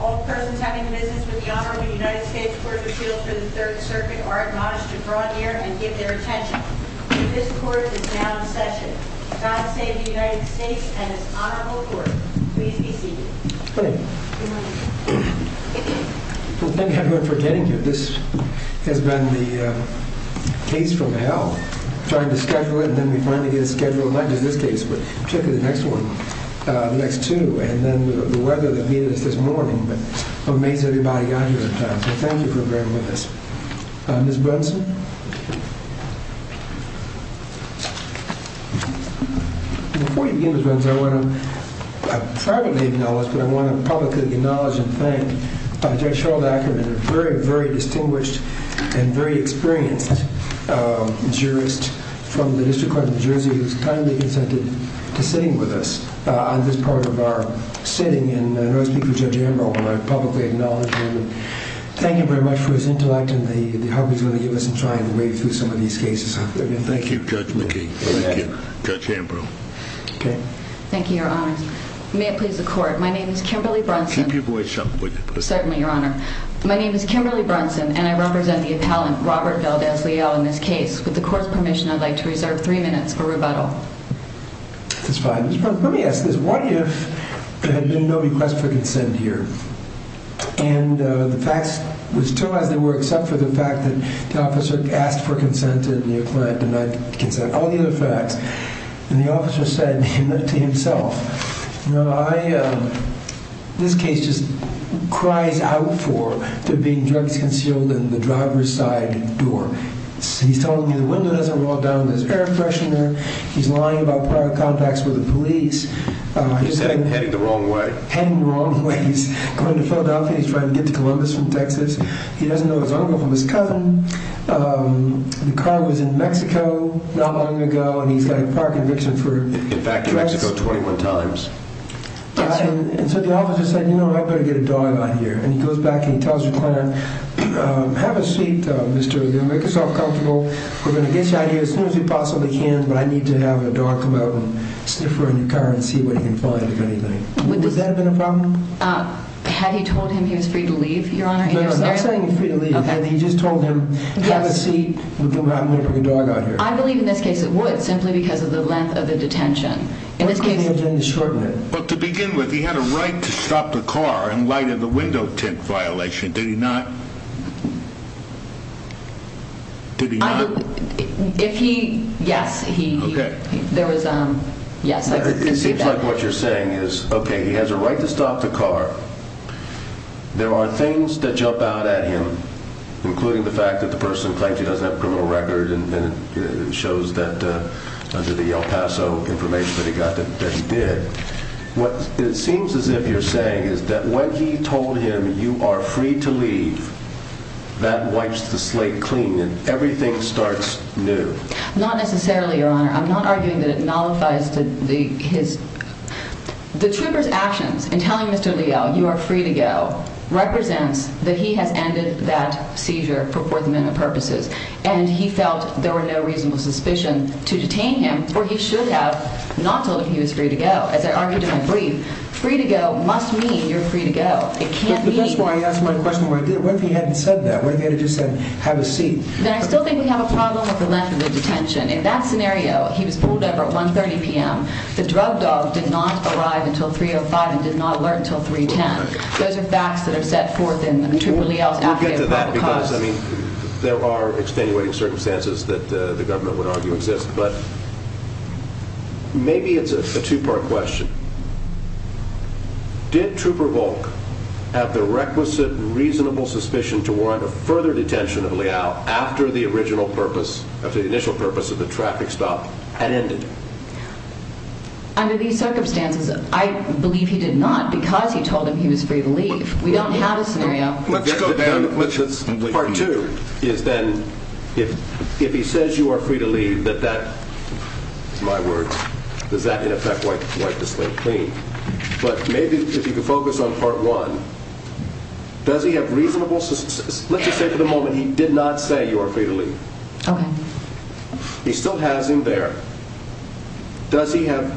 All persons having business with the Honorable United States Court of Appeals for the 3rd Circuit are admonished to draw near and give their attention. This court is now in session. God save the United States and its Honorable Court. Please be seated. Thank you, everyone, for getting here. This has been the case from hell. Trying to schedule it and then we finally get a schedule, not just this case, but particularly the next one, the next two, and then the weather that greeted us this morning amazed everybody out here in town. So thank you for being with us. Ms. Brunson? Before you begin, Ms. Brunson, I want to, I privately acknowledge, but I want to publicly acknowledge and thank Judge Cheryl Dackerman, a very, very distinguished and very experienced jurist from the District Court of New Jersey who has kindly consented to sitting with us on this part of our sitting and I want to speak for Judge Ambrose when I publicly acknowledge him. Thank you very much for his intellect and the opportunity to give us a try and wade through some of these cases. Thank you, Judge McKee. Thank you, Judge Ambrose. Thank you, Your Honors. May it please the Court. My name is Kimberly Brunson. Keep your voice up, would you please? Certainly, Your Honor. My name is Kimberly Brunson and I represent the appellant, Robert Valdes-Leal, in this case. With the Court's permission, I'd like to reserve three minutes for rebuttal. That's fine. Let me ask this. What if there had been no request for consent here and the facts were still as they were except for the fact that the officer asked for consent and your client denied consent, all the other facts, and the officer said to himself, you know, I, um, this case just cries out for there being drugs concealed in the driver's side door. He's telling me the window hasn't rolled down. There's air freshener. He's lying about private contacts with the police. He's heading the wrong way. He's heading the wrong way. He's going to Philadelphia. He's trying to get to Columbus from Texas. He doesn't know his uncle from his cousin. The car was in Mexico not long ago and he's got a park eviction for drugs. In fact, in Mexico 21 times. And so the officer said, you know, I better get a dog out here. And he goes back and he tells your client, have a seat, Mr. Leal. Make yourself comfortable. We're going to get you out of here as soon as we possibly can, but I need to have a dog come out and sniffer in your car and see what he can find, if anything. Would that have been a problem? Had he told him he was free to leave, Your Honor? I'm not saying he was free to leave. He just told him, have a seat. I'm going to bring a dog out here. I believe in this case it would, simply because of the length of the detention. To begin with, he had a right to stop the car in light of the window tint violation. Did he not? Yes. Yes. It seems like what you're saying is, OK, he has a right to stop the car. There are things that jump out at him, including the fact that the person claims he doesn't have a criminal record. And it shows that under the El Paso information that he got, that he did. What it seems as if you're saying is that when he told him you are free to leave, that wipes the slate clean and everything starts new. Not necessarily, Your Honor. I'm not arguing that it nullifies his... The trooper's actions in telling Mr. Leal you are free to go represents that he has ended that seizure for forthment of purposes. And he felt there were no reasonable suspicion to detain him for he should have not told him he was free to go. As I argued in my brief, free to go must mean you're free to go. It can't mean... But that's why I asked my question, what if he hadn't said that? What if he had just said, have a seat? Then I still think we have a problem with the length of the detention. In that scenario, he was pulled over at 1.30 p.m. The drug dog did not arrive until 3.05 and did not alert until 3.10. Those are facts that are set forth in the trooper Leal's affidavit. There are extenuating circumstances that the government would argue exist, but maybe it's a two-part question. Did Trooper Volk have the requisite reasonable suspicion to warrant a further detention of Leal after the initial purpose of the traffic stop had ended? Under these circumstances, I believe he did not. Not because he told him he was free to leave. We don't have a scenario. Part two is then, if he says you are free to leave, that that, in my words, does that in effect wipe the slate clean? But maybe if you could focus on part one, does he have reasonable... Let's just say for the moment he did not say you are free to leave. He still has him there. Does he have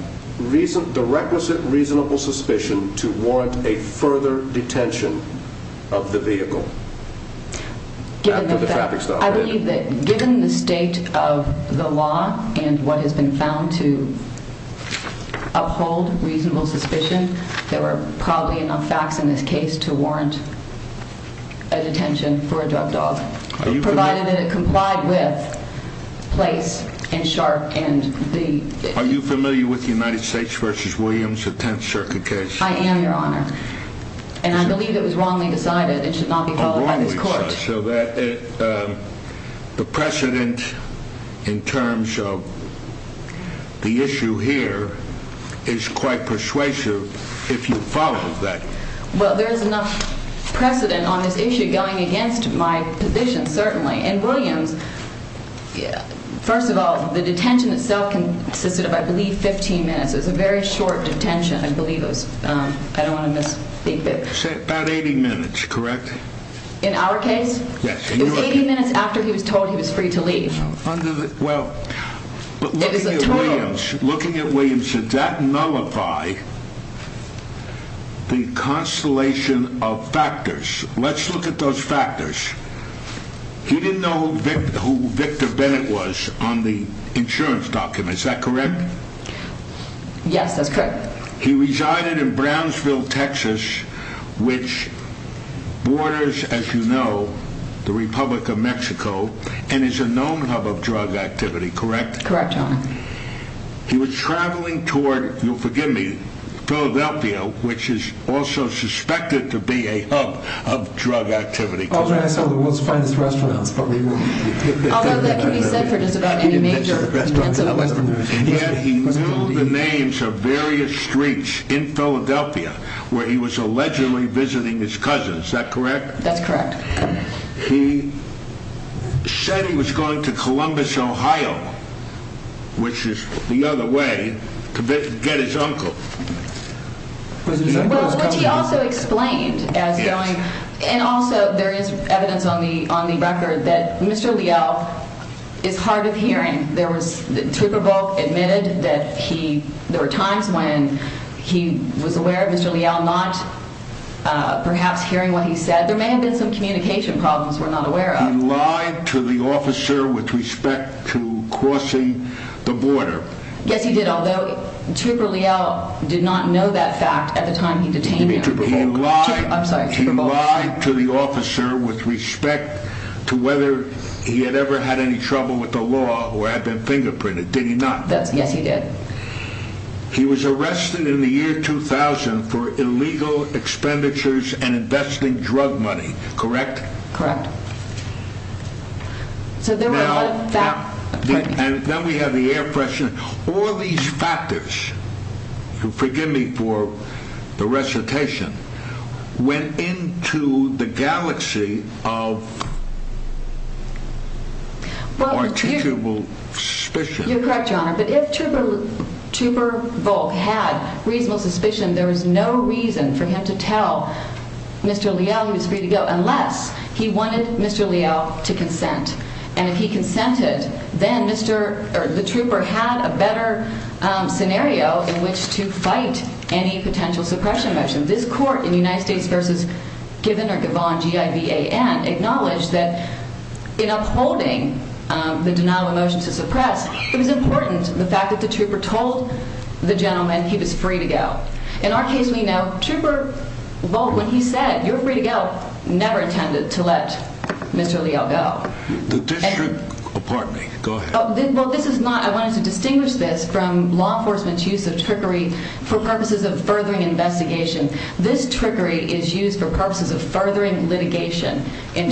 the requisite reasonable suspicion to warrant a further detention of the vehicle after the traffic stop? I believe that given the state of the law and what has been found to uphold reasonable suspicion, there were probably enough facts in this case to warrant a detention for a drug dog, provided that it complied with Place and Sharp. Are you familiar with the United States v. Williams, the Tenth Circuit case? I am, Your Honor. And I believe it was wrongly decided it should not be followed by this court. So the precedent in terms of the issue here is quite persuasive if you followed that. Well, there is enough precedent on this issue going against my position, certainly. In Williams, first of all, the detention itself consisted of, I believe, 15 minutes. It was a very short detention. I don't want to misspeak. About 80 minutes, correct? In our case? Yes. It was 80 minutes after he was told he was free to leave. Well, looking at Williams, did that nullify the constellation of factors? Let's look at those factors. You didn't know who Victor Bennett was on the insurance document, is that correct? Yes, that's correct. He resided in Brownsville, Texas, which borders, as you know, the Republic of Mexico and is a known hub of drug activity, correct? Correct, Your Honor. He was traveling toward, you'll forgive me, Philadelphia, which is also suspected to be a hub of drug activity. Although that can be said for just about any major restaurant in the West. Yet he knew the names of various streets in Philadelphia where he was allegedly visiting his cousin, is that correct? That's correct. He said he was going to Columbus, Ohio, which is the other way to get his uncle. Well, he also explained, and also there is evidence on the record that Mr. Leal is hard of hearing. Trooper Volk admitted that there were times when he was aware of Mr. Leal not perhaps hearing what he said. There may have been some communication problems we're not aware of. He lied to the officer with respect to crossing the border. Yes, he did, although Trooper Leal did not know that fact at the time he detained him. I'm sorry, Trooper Volk. He lied to the officer with respect to whether he had ever had any trouble with the law or had been fingerprinted, did he not? Yes, he did. He was arrested in the year 2000 for illegal expenditures and investing drug money, correct? Correct. So there were a lot of facts. And then we have the air freshener. All these factors, forgive me for saying this, the recitation went into the galaxy of articulable suspicion. You're correct, Your Honor. But if Trooper Volk had reasonable suspicion, there was no reason for him to tell Mr. Leal he was free to go unless he wanted Mr. Leal to consent. And if he consented, then the Trooper had a better scenario in which to fight any potential suppression motion. This court in United States v. Given or Givon, G-I-V-A-N, acknowledged that in upholding the denial of motion to suppress, it was important the fact that the Trooper told the gentleman he was free to go. In our case, we know Trooper Volk, when he said, you're free to go, never intended to let Mr. Leal go. I wanted to distinguish this from law enforcement's use of trickery for purposes of furthering investigation. This trickery is used for purposes of furthering litigation. It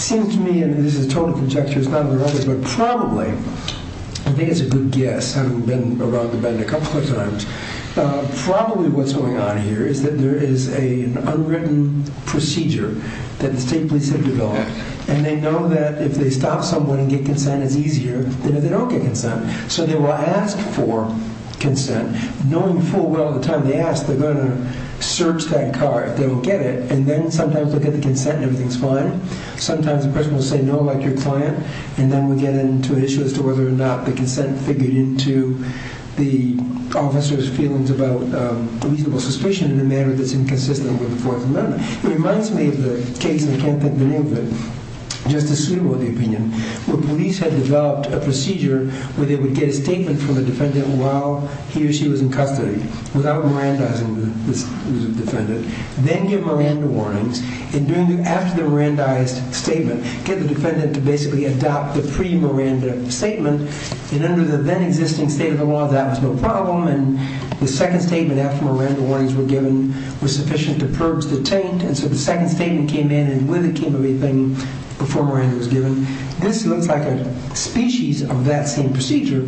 seems to me, and this is a total conjecture, but probably, I think it's a good guess, I've been around a lot of cases where the State Police have developed an unwritten procedure. And they know that if they stop someone and get consent, it's easier than if they don't get consent. So they will ask for consent, knowing full well the time they ask, they're going to search that car if they don't get it. And then sometimes they'll get the consent and everything's fine. Sometimes the person will say no, like your client, and then we get into an issue as to whether or not the consent figured into the officer's feelings about reasonable suspicion in a manner that's inconsistent with the Fourth Amendment. It reminds me of the case, and I can't think of the name of it, Justice Slobo, in the opinion, where police had developed a procedure where they would get a statement from a defendant while he or she was in custody, without Mirandizing the defendant, then give Miranda warnings, and after the Mirandized statement, get the defendant to basically adopt the pre-Miranda statement, and under the then existing state of the law, that was no problem, and the second statement after Miranda warnings were given was sufficient to purge the taint, and so the second statement came in, and with it came everything before Miranda was given. This looks like a species of that same procedure,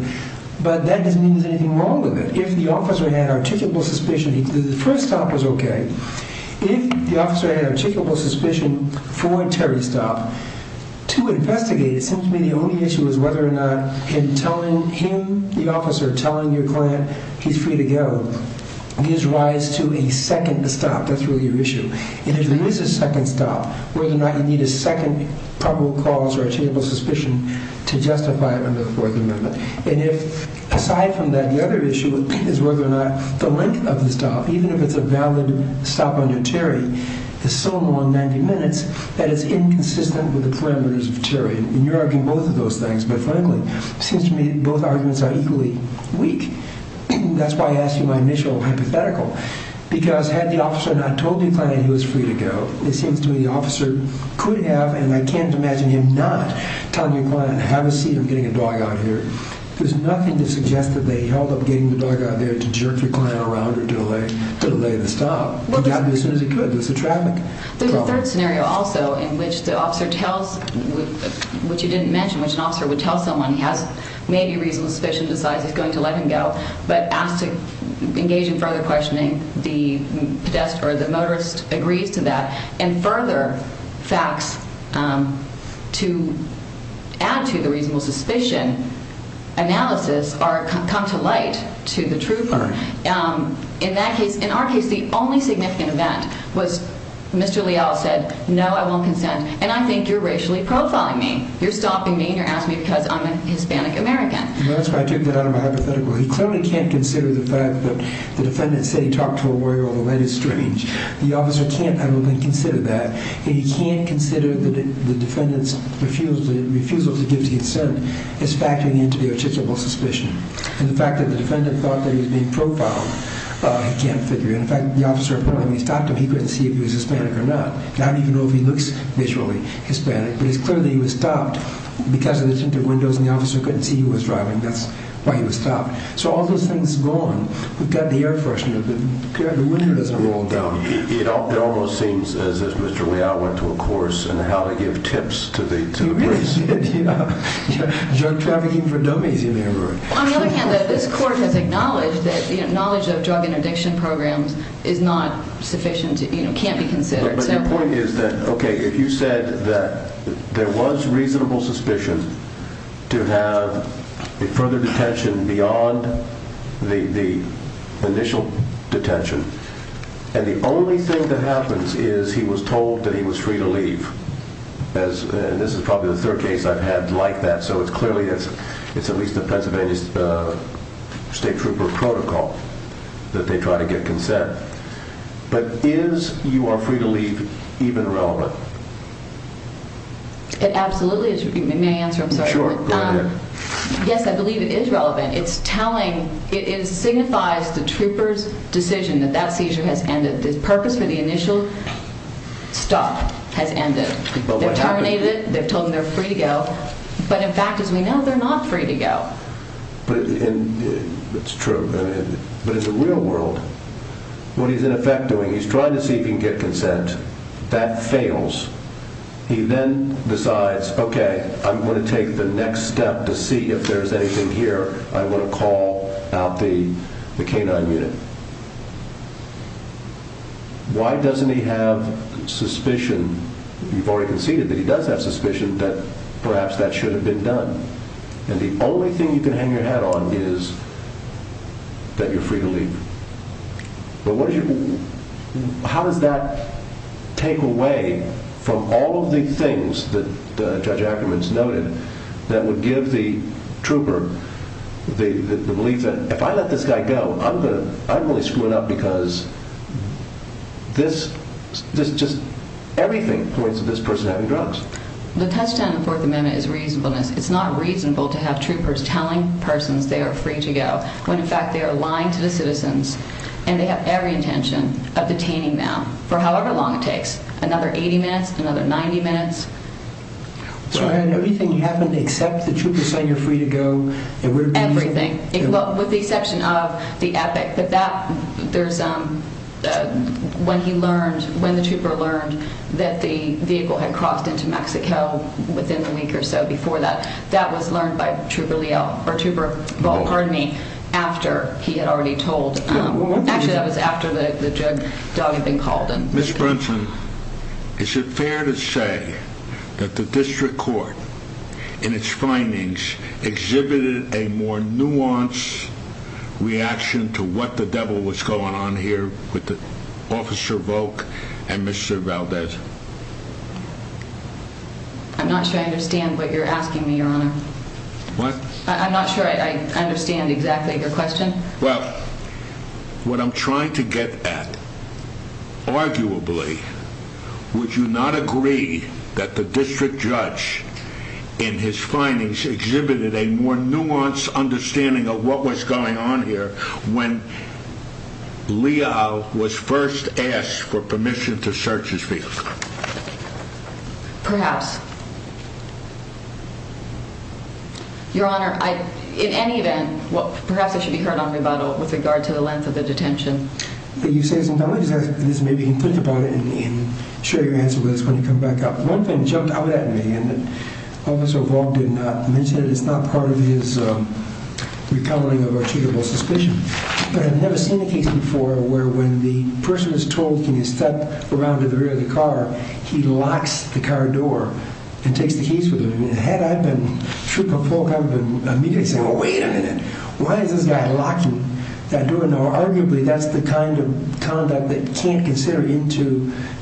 but that doesn't mean there's anything wrong with it. If the officer had articulable suspicion, the first stop was okay. If the officer had articulable suspicion for Terry's stop, to investigate, it seems to me the only issue is whether or not in telling him, the officer, telling your client he's free to go, gives rise to a second stop. That's really your issue, and if there is a second stop, whether or not you need a second probable cause or articulable suspicion to justify it under the Fourth Amendment, and if, aside from that, the other issue is whether or not the length of the stop, even if it's a valid stop on your Terry, is so long, 90 minutes, that it's inconsistent with the parameters of Terry, and you're arguing both of those things, but frankly, it seems to me both arguments are equally weak. That's why I asked you my initial hypothetical, because had the officer not told your client he was free to go, it seems to me the officer could have, and I can't imagine him not telling your client, have a seat, I'm getting a dog out here. There's nothing to suggest that they held up getting the dog out there to jerk the client around or delay the stop. He got there as soon as he could. There's a traffic problem. There's a third scenario also, in which the officer tells, which you didn't mention, which an officer would tell someone he has maybe reasonable suspicion, decides he's going to let him go, but asked to engage in further facts to add to the reasonable suspicion analysis or come to light to the truth. In that case, in our case, the only significant event was Mr. Leal said, no, I won't consent, and I think you're racially profiling me. You're stopping me and you're asking me because I'm a Hispanic American. That's why I took that out of my hypothetical. He certainly can't consider the fact that the defendant said he talked to a lawyer, although that is strange. The officer can't, I don't think, consider that. He can't consider the defendant's refusal to give the consent as factoring into the articulable suspicion. And the fact that the defendant thought that he was being profiled, he can't figure. In fact, the officer apparently stopped him. He couldn't see if he was Hispanic or not. Not even know if he looks visually Hispanic, but it's clear that he was stopped because of the tinted windows and the officer couldn't see who was driving. That's why he was stopped. So all those things gone. We've got the air freshener. The window doesn't roll down. It almost seems as if Mr. Leal went to a course on how to give tips to the police. Drug trafficking for dummies, you may remember. On the other hand, this court has acknowledged that knowledge of drug interdiction programs is not sufficient, can't be considered. But the point is that, OK, if you said that there was reasonable suspicion to have a further detention beyond the initial detention, and the only thing that happens is he was told that he was free to leave. And this is probably the third case I've had like that. So it's clearly it's at least a Pennsylvania State Trooper protocol that they try to get consent. But is you are free to leave even relevant? Absolutely. May I answer? I'm sorry. Yes, I believe it is relevant. It's telling it signifies the troopers decision that that seizure has ended. The purpose for the initial stop has ended. They've terminated it. They've told him they're free to go. But in fact, as we know, they're not free to go. But it's true. But in the real world, what he's in effect doing, he's trying to see if he can get consent that fails. He then decides, OK, I'm going to take the next step to see if there's anything here. I want to call out the canine unit. Why doesn't he have suspicion? You've already conceded that he does have suspicion that perhaps that should have been done. And the only thing you can hang your head on is that you're free to leave. But how does that take away from all of the things that Judge Ackerman's noted that would give the trooper the belief that if I let this guy go, I'm going to get everything. The touchdown in the Fourth Amendment is reasonableness. It's not reasonable to have troopers telling persons they are free to go when in fact they are lying to the citizens and they have every intention of detaining them for however long it takes. Another 80 minutes, another 90 minutes. Everything except the trooper saying you're free to go. Everything. With the exception of the epic. When he learned, when the trooper learned that the vehicle had crossed into Mexico within a week or so before that, that was learned by Trooper Leal. After he had already told. Miss Brinson, is it fair to say that the district judge had a more nuanced reaction to what the devil was going on here with Officer Volk and Mr. Valdez? I'm not sure I understand what you're asking me, Your Honor. I'm not sure I understand exactly your question. Well, what I'm trying to get at, arguably, would you not agree that the district judge in his findings exhibited a more nuanced understanding of what was going on here when Leal was first asked for permission to search his vehicle? Perhaps. Your Honor, in any event, perhaps it should be heard on rebuttal with regard to the length of the detention. You say this maybe you can think about it and share your answer with us when you come back up. One thing jumped out at me, and Officer Volk did not mention it. It's not part of his recovering of our treatable suspicion. But I've never seen a case before where when the person is told can you step around to the rear of the car, he locks the car door and takes the keys with him. Had I been Trooper Volk, I would have immediately said, wait a minute. Why is this guy locking that door? Arguably, that's the kind of conduct that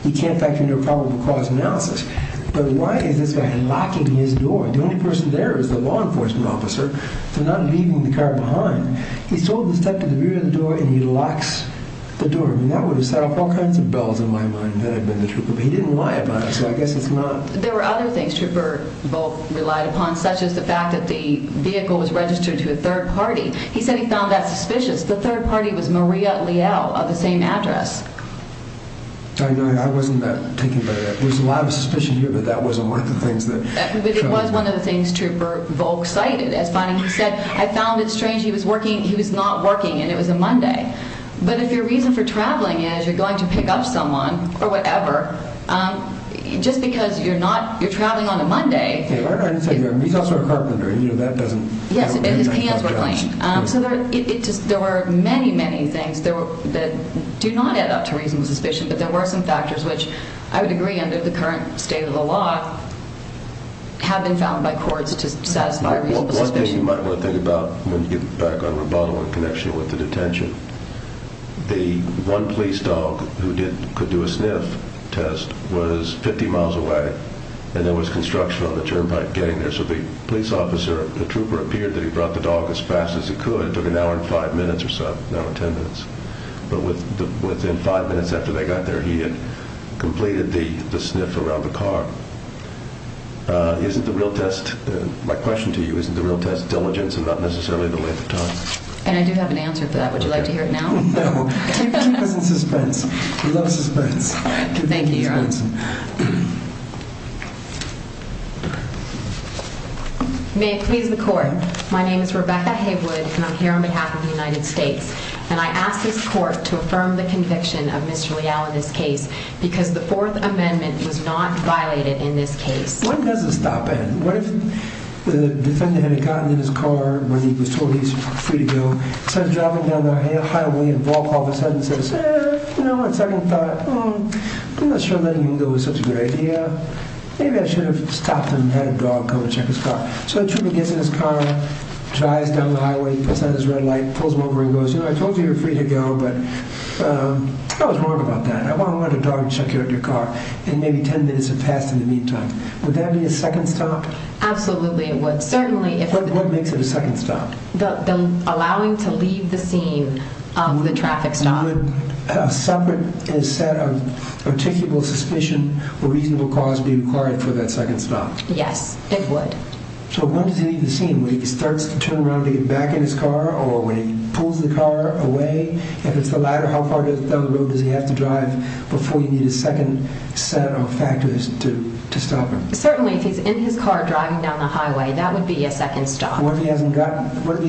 he can't factor into a probable cause analysis. But why is this guy locking his door? The only person there is the law enforcement officer. They're not leaving the car behind. He's told to step to the rear of the door and he locks the door. There were other things Trooper Volk relied upon, such as the fact that the vehicle was registered to a third party. He said he found that suspicious. The third party was Maria Leal of the same address. There was a lot of suspicion here, but that wasn't one of the things. But it was one of the things Trooper Volk cited as finding. He said, I found it strange. He was not working and it was a Monday. But if your reason for traveling is you're going to pick up someone or whatever, just because you're traveling on a Monday. He's also a carpenter. Yes, his hands were clean. There were many, many things that do not add up to reasonable suspicion. But there were some factors which I would agree under the current state of the law have been found by courts to satisfy reasonable suspicion. One thing you might want to think about when you get back on rebuttal in connection with the detention. The one police dog who could do a sniff test was 50 miles away. And there was construction on the turnpike getting there. So the police officer, the trooper appeared that he brought the dog as fast as he could. It took an hour and five minutes or so, not 10 minutes. But within five minutes after they got there, he had completed the sniff around the car. Isn't the real test. My question to you isn't the real test diligence and not necessarily the length of time. And I do have an answer to that. Would you like to hear it now? Thank you. May it please the court. My name is Rebecca Haywood. And I'm here on behalf of the United States. And I asked this court to affirm the conviction of Mr. Leal in this case because the Fourth Amendment was not violated in this case. When does the stop end? What if the defendant had gotten in his car when he was told he's free to go? Instead of driving down the highway and a ball call all of a sudden says, you know, I second thought, I'm not sure letting him go was such a good idea. Maybe I should have stopped him and had a dog come and check his car. So the trooper gets in his car, drives down the highway, puts on his red light, pulls him over and goes, you know, I told you you're free to go. But I was wrong about that. I want to let a dog check out your car. And maybe 10 minutes have passed in the meantime. Would that be a second stop? Absolutely it would. Certainly. What makes it a second stop? Allowing to leave the scene of the traffic stop. Would a separate set of articulable suspicion or reasonable cause be required for that second stop? Yes, it would. So when does he leave the scene? When he starts to turn around to get back in his car or when he pulls the car away? If it's the latter, how far down the road does he have to drive before you need a second set of factors to stop him? Certainly if he's in his car driving down the highway, that would be a second stop. What if he's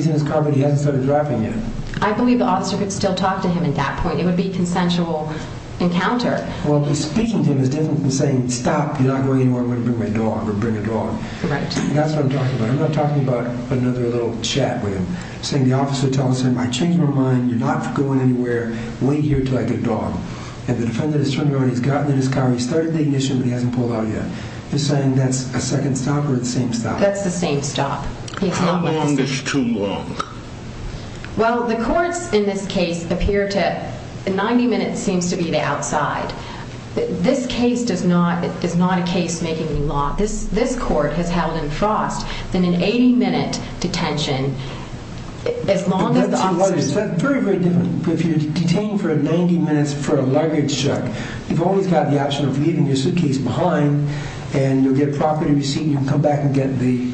in his car but he hasn't started driving yet? I believe the officer could still talk to him at that point. It would be a consensual encounter. Well, speaking to him is different than saying, stop, you're not going anywhere, I'm going to bring my dog or bring a dog. That's what I'm talking about. I'm not talking about another little chat with him. I'm saying the officer tells him, I changed my mind, you're not going anywhere, wait here until I get a dog. And the defendant has turned around, he's gotten in his car, he's started the ignition, but he hasn't pulled out yet. You're saying that's a second stop or the same stop? That's the same stop. How long is too long? Well, the courts in this case appear to, 90 minutes seems to be the outside. This case does not, is not a case making the law. This court has held in Frost an 80 minute detention as long as the officer... That's very, very different. If you're detained for 90 minutes for a luggage check, you've always got the option of leaving your suitcase behind and you'll get a property receipt and you can come back and get the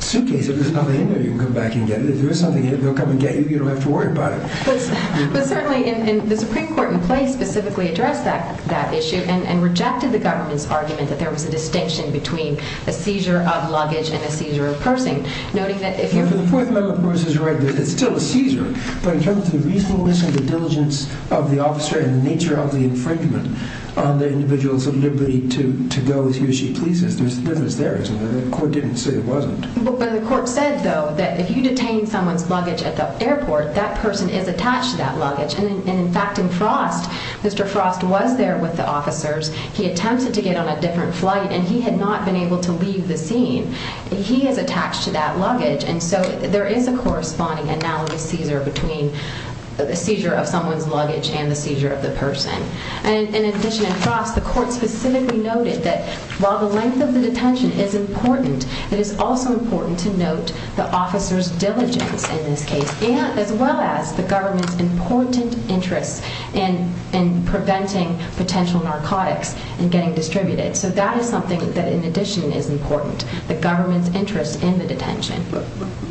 suitcase. If there's nothing in there, you can come back and get it. If there is something in there, they'll come and get you, you don't have to worry about it. But certainly, the Supreme Court in place specifically addressed that issue and rejected the government's argument that there was a distinction between a seizure of luggage and a seizure of pursing. The Fourth Amendment, of course, is still a seizure, but in terms of the reasonableness and the diligence of the officer and the nature of the infringement on the individual's liberty to go as he or she pleases, there's a difference there. The court didn't say it wasn't. The court said, though, that if you detain someone's luggage at the airport, that person is attached to that luggage. In fact, in Frost, Mr. Frost was there with the officers. He attempted to get on a different flight and he had not been able to leave the scene. He is attached to that luggage and so there is a corresponding analogous seizure between the seizure of someone's luggage and the seizure of the person. In addition, in Frost, the court specifically noted that while the length of the detention is important, it is also important to note the officer's diligence in this case, as well as the government's important interest in preventing potential narcotics and getting distributed. So that is something that, in addition, is important, the government's interest in the detention.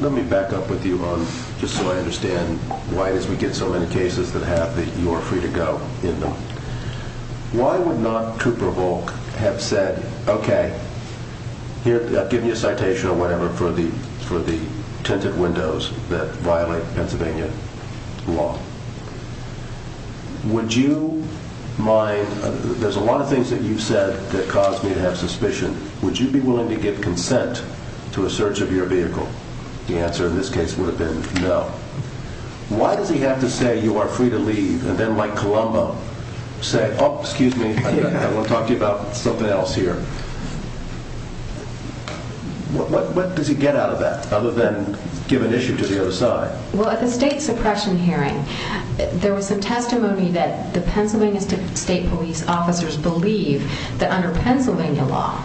Let me back up with you on, just so I understand why we get so many cases that have the you are free to go in them. Why would not Cooper Volk have said, okay, here, I'll give you a citation or whatever for the tinted windows that violate Pennsylvania law. Would you mind, there's a lot of things that you've said that cause me to have suspicion. Would you be willing to give consent to a search of your vehicle? The answer in this case would have been no. Why does he have to say you are free to leave and then like Colombo say, oh, excuse me, I want to talk to you about something else here. What does he get out of that, other than give an issue to the other side? Well, at the state suppression hearing, there was some testimony that the Pennsylvania State Police officers believe that under Pennsylvania law,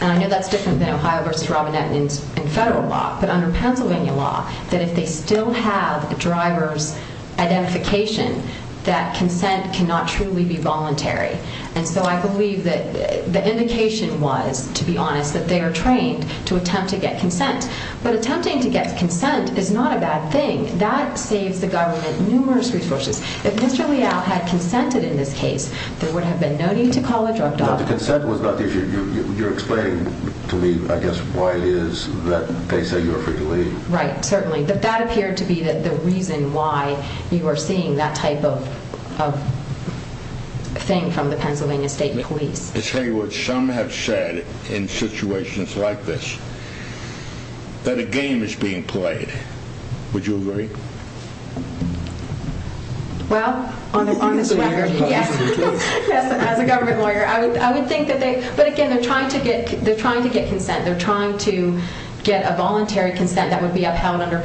and I know that's different than Ohio v. Robinette in federal law, but under Pennsylvania law, that if they still have a driver's identification, that it was, to be honest, that they are trained to attempt to get consent. But attempting to get consent is not a bad thing. That saves the government numerous resources. If Mr. Leal had consented in this case, there would have been no need to call a drug doctor. You're explaining to me, I guess, why it is that they say you are free to leave. Right, certainly. That appeared to be the reason why you were seeing that type of thing from the Pennsylvania State Police. Ms. Haywood, some have said in situations like this, that a game is being played. Would you agree? Well, on this record, yes, as a government lawyer, I would think that they, but again, they're trying to get consent. They're trying to get a voluntary consent that would be upheld under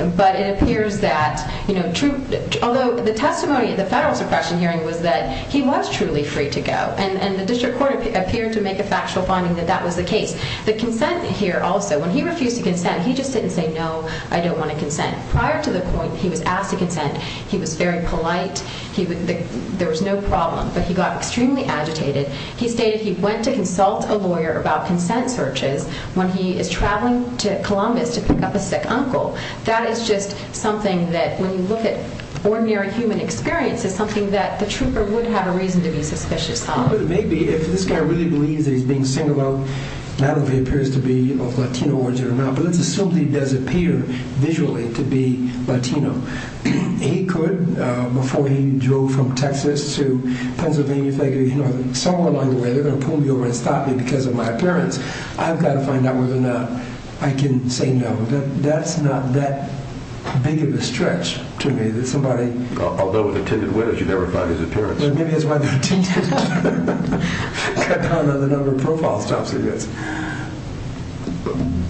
although the testimony at the federal suppression hearing was that he was truly free to go. And the district court appeared to make a factual finding that that was the case. The consent here also, when he refused to consent, he just didn't say, no, I don't want to consent. Prior to the point he was asked to consent, he was very polite, there was no problem, but he got extremely agitated. He stated he went to consult a lawyer about consent searches when he is traveling to Columbus to pick up a sick uncle. That is just something that when you look at ordinary human experience, it's something that the trooper would have a reason to be suspicious of. But it may be, if this guy really believes that he's being singled out, not if he appears to be of Latino origin or not, but let's assume that he does appear visually to be Latino. He could, before he drove from Texas to Pennsylvania, think, you know, somewhere along the way, they're going to pull me over and stop me because of my appearance. I've got to find out whether or not I can say no. That's not that big of a stretch to me. Although with a tinted window, you never find his appearance.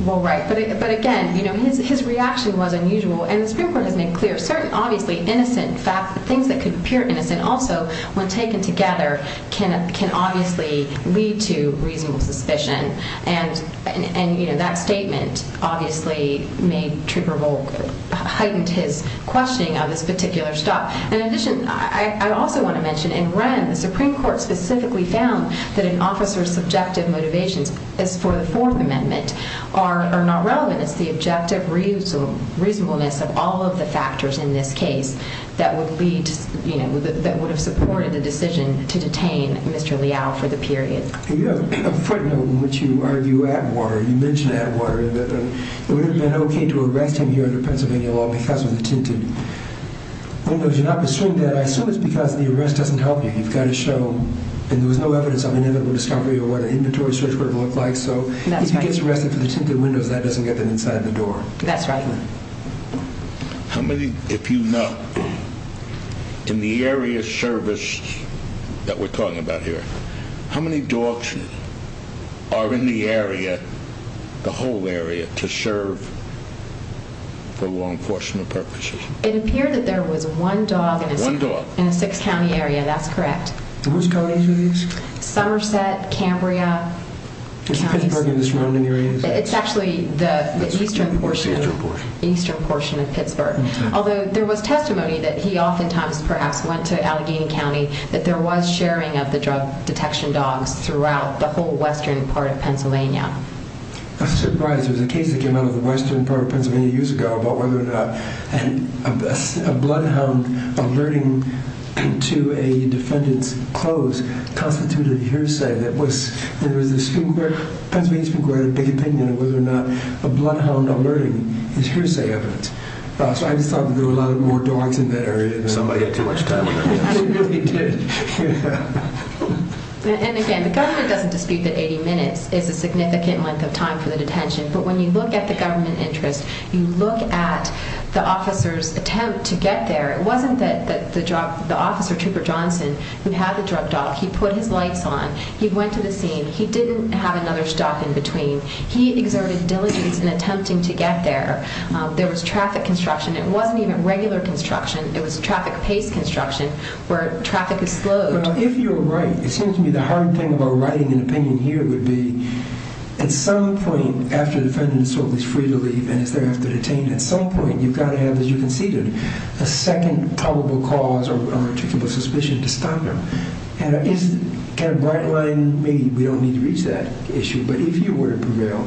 Well, right. But again, his reaction was unusual. And the Supreme Court has made clear that things that appear innocent also, when taken together, can obviously lead to reasonable suspicion. And that statement obviously heightened his questioning of this particular stop. In addition, I also want to mention, in Wren, the Supreme Court specifically found that an officer's subjective motivations as for the Fourth Amendment are not relevant. It's the objective reasonableness of all of the factors in this case that would have supported the decision to detain Mr. Leal for the period. You mentioned Atwater. It would have been okay to arrest him here under Pennsylvania law because of the tinted windows. You're not pursuing that. I assume it's because the arrest doesn't help you. You've got to show, and there was no evidence of inevitable discovery of what an inventory search would have looked like. So if he gets arrested for the tinted windows, that doesn't get them inside the door. That's right. How many, if you know, in the area of service that we're talking about here, how many dogs are in the area, the whole area, to serve for law enforcement purposes? It appeared that there was one dog in a six-county area. That's correct. Which counties are these? Somerset, Cambria. It's actually the eastern portion of Pittsburgh. Although there was testimony that he oftentimes perhaps went to Allegheny County, that there was sharing of the drug detection dogs throughout the whole western part of Pennsylvania. I was surprised. There was a case that came out of the western part of Pennsylvania years ago about whether or not a bloodhound alerting to a defendant's clothes constituted hearsay. The Pennsylvania Supreme Court had a big opinion on whether or not a bloodhound alerting is hearsay evidence. So I just thought that there were a lot more dogs in that area. Somebody had too much time on their hands. And again, the government doesn't dispute that 80 minutes is a significant length of time for the detention. But when you look at the government interest, you look at the officer's attempt to get there. It wasn't that the officer, Trooper Johnson, who had the drug dog, he put his lights on, he went to the scene, he didn't have another stop in between. He exerted diligence in attempting to get there. There was traffic construction. It wasn't even regular construction. It was traffic-paced construction where traffic is slowed. Well, if you're right, it seems to me the hard thing about writing an opinion here would be, at some point, after the defendant is free to leave and is thereafter detained, at some point you've got to have, as you conceded, a second probable cause or a particular suspicion to stop him. And it's kind of a bright line. Maybe we don't need to reach that issue, but if you were to prevail,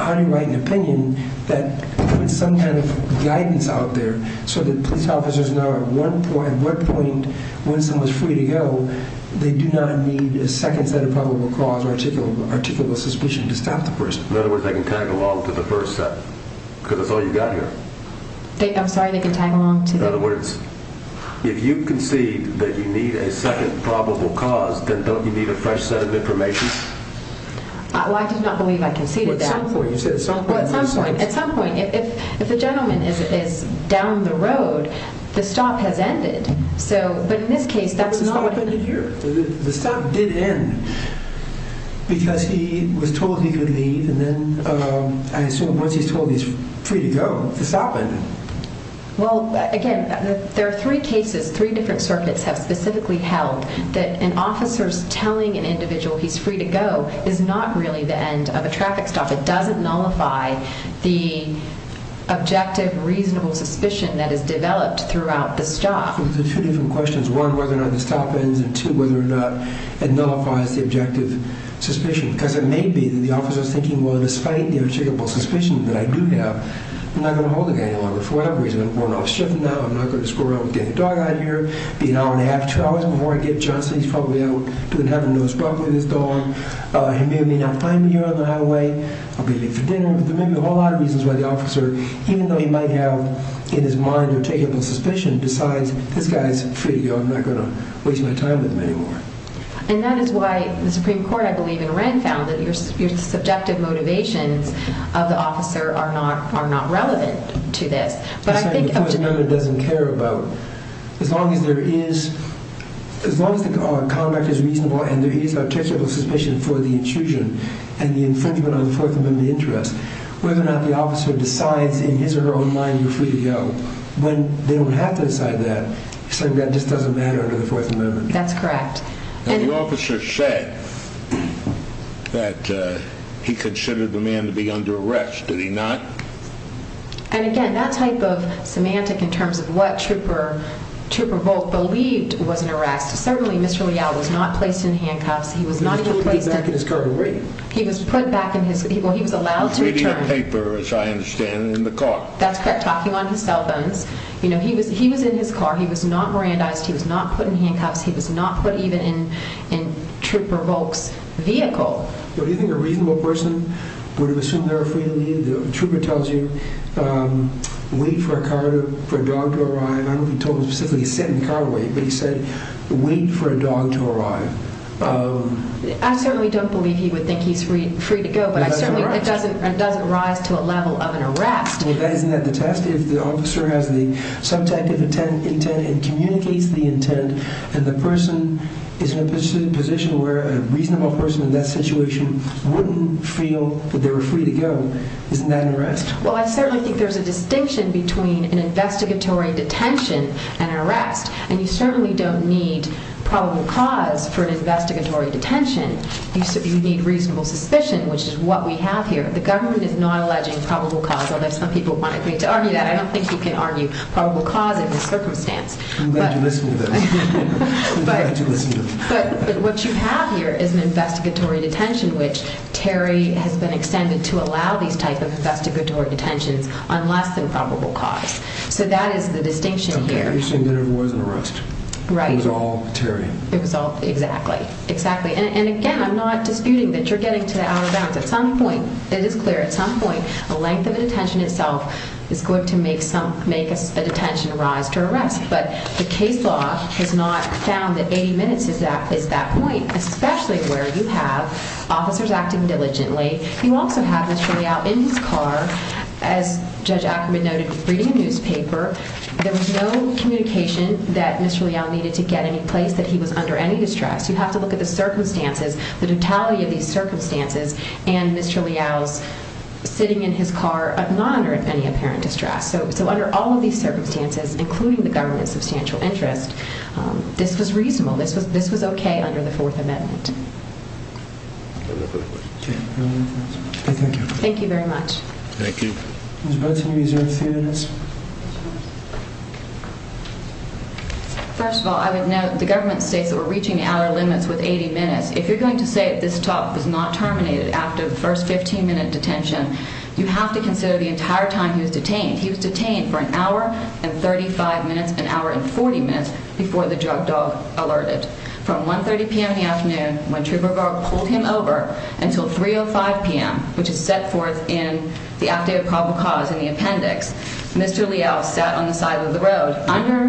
how do you write an opinion that puts some kind of guidance out there so that police officers know at what point, when someone's free to go, they do not need a second set of probable cause or a particular suspicion to stop the person? In other words, they can tag along to the first set because that's all you've got here. I'm sorry, they can tag along to the... In other words, if you concede that you need a second probable cause, then don't you need a fresh set of information? Well, I did not believe I conceded that. At some point, if the gentleman is down the road, the stop has ended. But in this case, that's not... The stop did end because he was told he could leave, and then I assume once he's told he's free to go, the stop ended. Well, again, there are three cases, three different circuits have specifically held that an officer's telling an individual he's free to go is not really the end of a traffic stop. It doesn't nullify the objective, reasonable suspicion that has developed throughout the stop. And that is why the Supreme Court, I believe, in Wren, found that your subjective motivations of the officer are not relevant to this. But I think... The Fourth Amendment doesn't care about... As long as the conduct is reasonable and there is a traceable suspicion for the intrusion and the infringement on the Fourth Amendment interest, whether or not the officer decides in his or her own mind you're free to go, when they don't have to decide that, that just doesn't matter under the Fourth Amendment. And the officer said that he considered the man to be under arrest. Did he not? And again, that type of semantic in terms of what Trooper Bolt believed was an arrest, certainly Mr. Leal was not placed in handcuffs. He was put back in his car to wait. He was reading a paper, as I understand, in the car. That's correct. Talking on his cell phones. He was in his car. He was not Mirandized. He was not put in handcuffs. He was not put even in Trooper Bolt's vehicle. Do you think a reasonable person would assume they were free to leave? Trooper tells you, wait for a car, for a dog to arrive. I don't think he told him specifically to sit in the car and wait, but he said, wait for a dog to arrive. I certainly don't believe he would think he's free to go, but I certainly think it doesn't rise to a level of an arrest. Well, isn't that the test? If the officer has the subjective intent and communicates the intent, and the person is in a position where a reasonable person in that situation wouldn't feel that they were free to go, isn't that an arrest? Well, I certainly think there's a distinction between an investigatory detention and an arrest, and you certainly don't need probable cause for an investigatory detention. You need reasonable suspicion, which is what we have here. The government is not alleging probable cause, although some people might agree to argue that. I don't think you can argue probable cause in this circumstance. I'm glad you listened to this. I'm glad you listened to this. But what you have here is an investigatory detention, which Terry has been extended to allow these types of investigatory detentions on less than probable cause. So that is the distinction here. Okay, so there was an arrest. It was all Terry. Exactly. And again, I'm not disputing that you're getting to out of bounds. At some point, it is clear, at some point, the length of the detention itself is going to make a detention rise to arrest. But the case law has not found that 80 minutes is that point, especially where you have officers acting diligently. You also have Mr. Leal in his car, as Judge Ackerman noted, reading a newspaper. There was no communication that Mr. Leal needed to get any place that he was under any distress. You have to look at the circumstances, the totality of these circumstances, and Mr. Leal's sitting in his car not under any apparent distress. So under all of these circumstances, including the government's substantial interest, this was reasonable. This was okay under the Fourth Amendment. Thank you very much. Thank you. First of all, I would note the government states that we're reaching the outer limits with 80 minutes. If you're going to say that this talk was not terminated after the first 15-minute detention, you have to consider the entire time he was detained. He was detained for an hour and 35 minutes, an hour and 40 minutes before the drug dog alerted. From 1.30 p.m. in the afternoon when Trooper Garg pulled him over until 3.05 p.m., which is set forth in the updated probable cause in the appendix, Mr. Leal sat on the side of the road under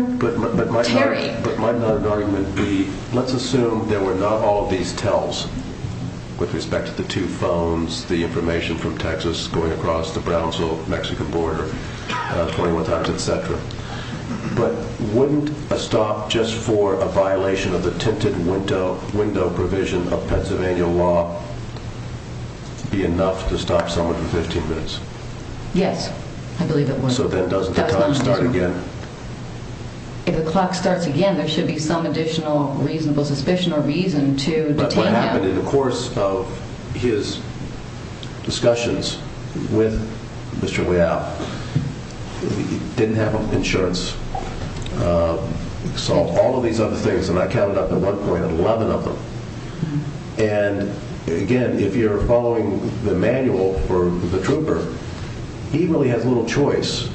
Terry. But my argument would be, let's assume there were not all of these tells with respect to the two phones, the information from Texas going across the Brownsville-Mexican border 21 times, et cetera. But wouldn't a stop just for a violation of the tinted window provision of Pennsylvania law be enough to stop someone for 15 minutes? Yes, I believe it would. So then doesn't the clock start again? If the clock starts again, there should be some additional reasonable suspicion or reason to detain him. But what happened in the course of his discussions with Mr. Leal, he didn't have insurance, saw all of these other things, and I counted up at one point 11 of them. And again, if you're following the manual for the trooper, he really has little choice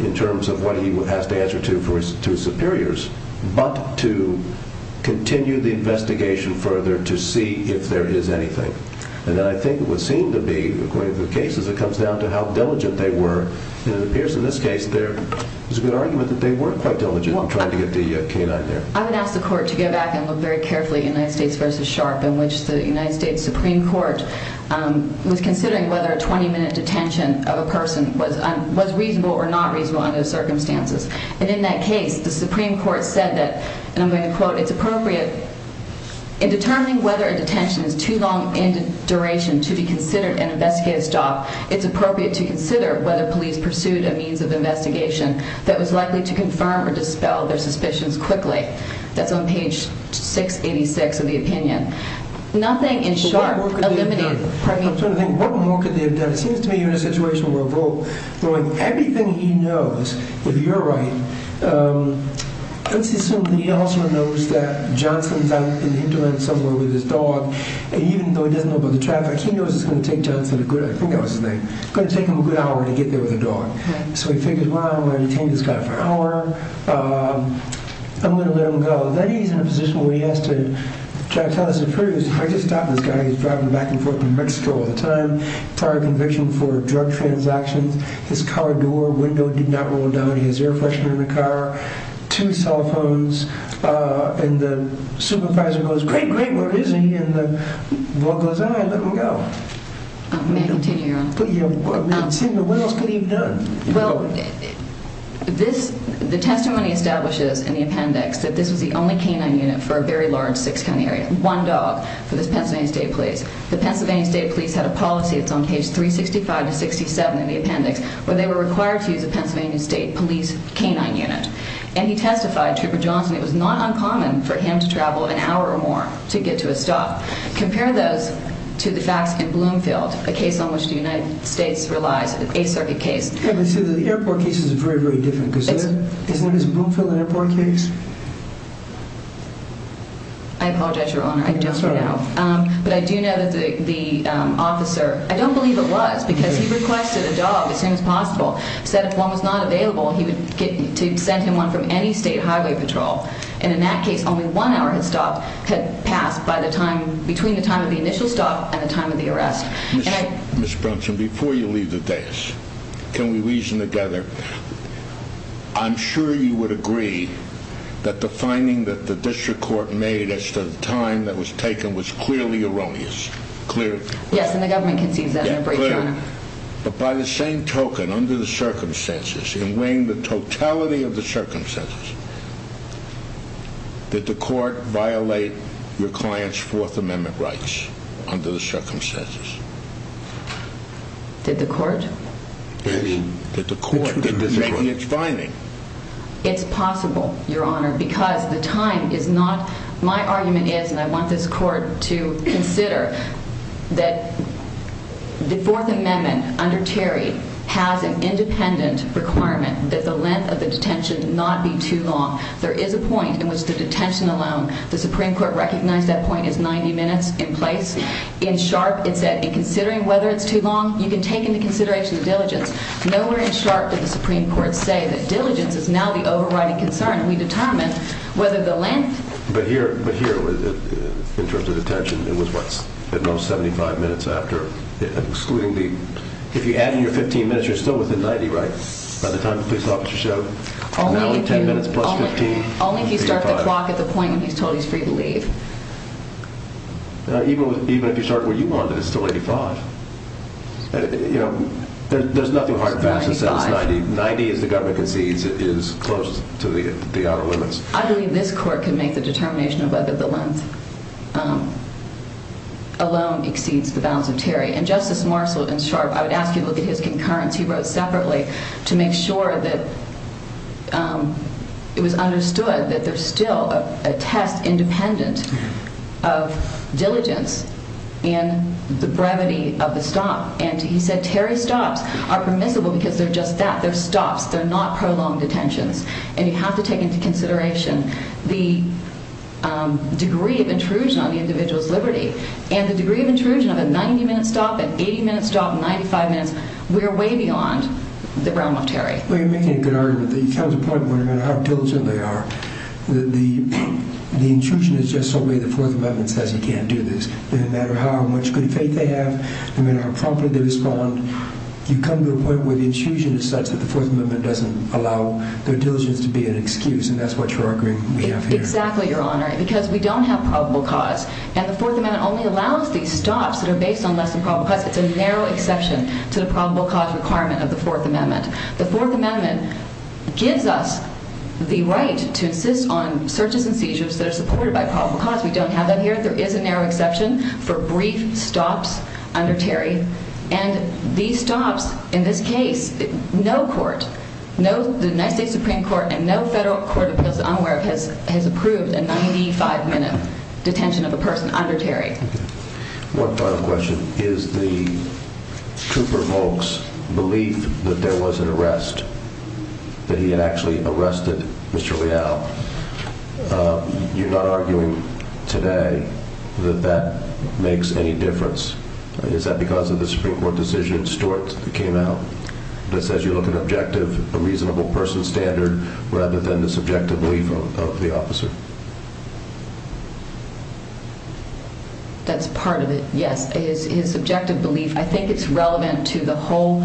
in terms of what he has to answer to his superiors, but to continue the investigation further to see if there is anything. And then I think it would seem to be, according to the cases, it comes down to how diligent they were. And it appears in this case there is a good argument that they weren't quite diligent in trying to get the canine there. I would ask the court to go back and look very carefully at United States v. Sharp in which the United States Supreme Court was considering whether a 20-minute detention of a person was reasonable or not reasonable under the circumstances. And in that case, the Supreme Court said that the detention is too long in duration to be considered an investigative stop. It's appropriate to consider whether police pursued a means of investigation that was likely to confirm or dispel their suspicions quickly. That's on page 686 of the opinion. Nothing in Sharp eliminated... It seems to me you're in a situation where everything he knows, if you're right, let's assume that he also knows that Johnson is out in the indolence somewhere with his dog, and even though he doesn't know about the traffic, he knows it's going to take Johnson a good, I think that was his name, it's going to take him a good hour to get there with the dog. So he figures, well, I'm going to detain this guy for an hour, I'm going to let him go. Then he's in a position where he has to try to tell his superiors, I just stopped this guy, he's driving back and forth from Mexico all the time, prior conviction for his air freshener in the car, two cell phones, and the supervisor goes, great, great, where is he? And the boy goes, all right, let him go. May I continue, Your Honor? What else could he have done? The testimony establishes in the appendix that this was the only canine unit for a very large six-county area. One dog for this Pennsylvania State Police. The Pennsylvania State Police had a policy, it's on page 365 to 67 in the appendix, where they were required to use a Pennsylvania State Police canine unit. And he testified, Trooper Johnson, it was not uncommon for him to travel an hour or more to get to a stop. Compare those to the facts in Bloomfield, a case on which the United States relies, an Eighth Circuit case. The airport case is very, very different. Isn't it as Bloomfield Airport case? I apologize, Your Honor, I don't know. But I do know that the officer, I don't believe it was, because he requested a dog as soon as possible, said if one was not available, he would get to send him one from any state highway patrol. And in that case, only one hour had stopped, had passed by the time, between the time of the initial stop and the time of the arrest. Ms. Brunson, before you leave the desk, can we reason together? I'm sure you would agree that the finding that the district court made as to the time that was taken was clearly erroneous. Clearly. Yes, and the government concedes that. But by the same token, under the circumstances, in weighing the totality of the circumstances, did the court violate your client's Fourth Amendment rights under the circumstances? Did the court? Did the court make its finding? It's possible, Your Honor, because the time is not, my argument is, and I want this court to consider that the Fourth Amendment under Terry has an independent requirement that the length of the detention not be too long. There is a point in which the detention alone, the Supreme Court recognized that point as 90 minutes in place. In Sharp, it said, in considering whether it's too long, you can take into consideration the diligence. Nowhere in Sharp did the Supreme Court say that diligence is now the overriding concern. We determine whether the length. But here, in terms of detention, it was what, at most 75 minutes after excluding the, if you add in your 15 minutes, you're still within 90, right, by the time the police officer showed? Only if you start the clock at the point when he's told he's free to leave. Even if you start where you wanted, it's still 85. There's nothing hard about it. 90, as the government concedes, is close to the outer limits. I believe this court can make the determination of whether the length alone exceeds the bounds of Terry. And Justice Marshall in Sharp, I would ask you to look at his concurrence. He wrote separately to make sure that it was understood that there's still a test independent of diligence in the brevity of the stop. And he said Terry stops are permissible because they're just that. They're stops. They're not prolonged detentions. And you have to take into consideration the degree of intrusion on the individual's liberty. And the degree of intrusion of a 90-minute stop, an 80-minute stop, 95 minutes, we're way beyond the realm of Terry. Well, you're making a good argument. The intrusion is just so many of the Fourth Amendment says you can't do this. No matter how much good faith they have, no matter how promptly they respond, you come to a point where the intrusion is such that the Fourth Amendment doesn't allow their diligence to be an excuse. And that's what you're arguing we have here. Exactly, Your Honor, because we don't have probable cause. And the Fourth Amendment only allows these stops that are based on less than probable cause. It's a narrow exception to the probable cause requirement of the Fourth Amendment. The Fourth Amendment gives us the right to insist on searches and seizures that are supported by probable cause. We don't have that here. There is a narrow exception for brief stops under Terry. And these stops, in this case, no court, the United States Supreme Court and no federal court of appeals that I'm aware of has approved a 95-minute detention of a person under Terry. One final question. Is the trooper Volk's belief that there was an arrest, that he had actually arrested Mr. Leal, you're not arguing today that that makes any difference? Is that because of the Supreme Court decision Stuart came out that says you look at objective, a reasonable person standard rather than the subjective belief of the officer? That's part of it, yes. His subjective belief, I think it's relevant to the whole.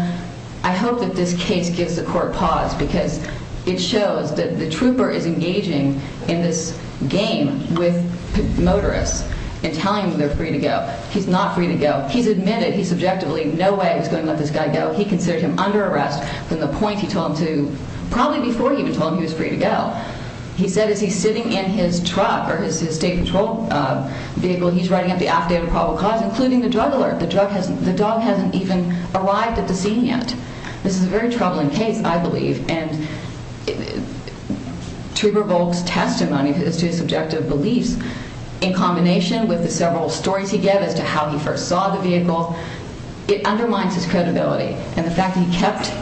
I hope that this case gives the court pause because it shows that the trooper is engaging in this game with motorists and telling them they're free to go. He's not free to go. He's admitted he subjectively no way was going to let this guy go. He considered him under arrest from the point he told him to, probably before he even told him he was free to go. He said as he's sitting in his truck or his state patrol vehicle, he's writing up the affidavit of probable cause including the drug alert. The dog hasn't even arrived at the scene yet. This is a very troubling case, I believe. Trooper Volk's testimony as to his subjective beliefs in combination with the several stories he gave as to how he first saw the vehicle, it undermines his credibility. The fact that he kept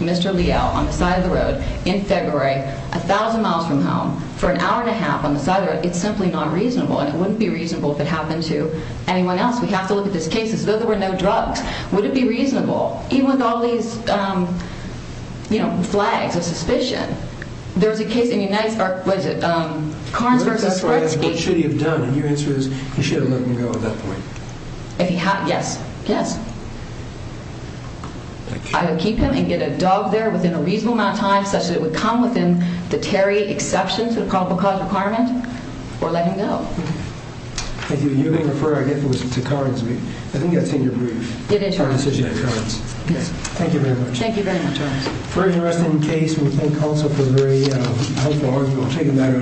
Mr. Leal on the side of the road in February, a thousand miles from home for an hour and a half on the side of the road, it's simply not reasonable. And it wouldn't be reasonable if it happened to anyone else. We have to look at this case as though there were no drugs. Would it be reasonable, even with all these flags of suspicion? There was a case in Karns versus Gretzky. I would keep him and get a dog there within a reasonable amount of time such that it would come within the Terry exception to the probable cause requirement, or let him go. Thank you. You're being referred, I guess, to Karns. I think that's in your brief. It is, Your Honor. Thank you very much. Thank you very much, Your Honor. Very interesting case. We thank counsel for a very helpful argument.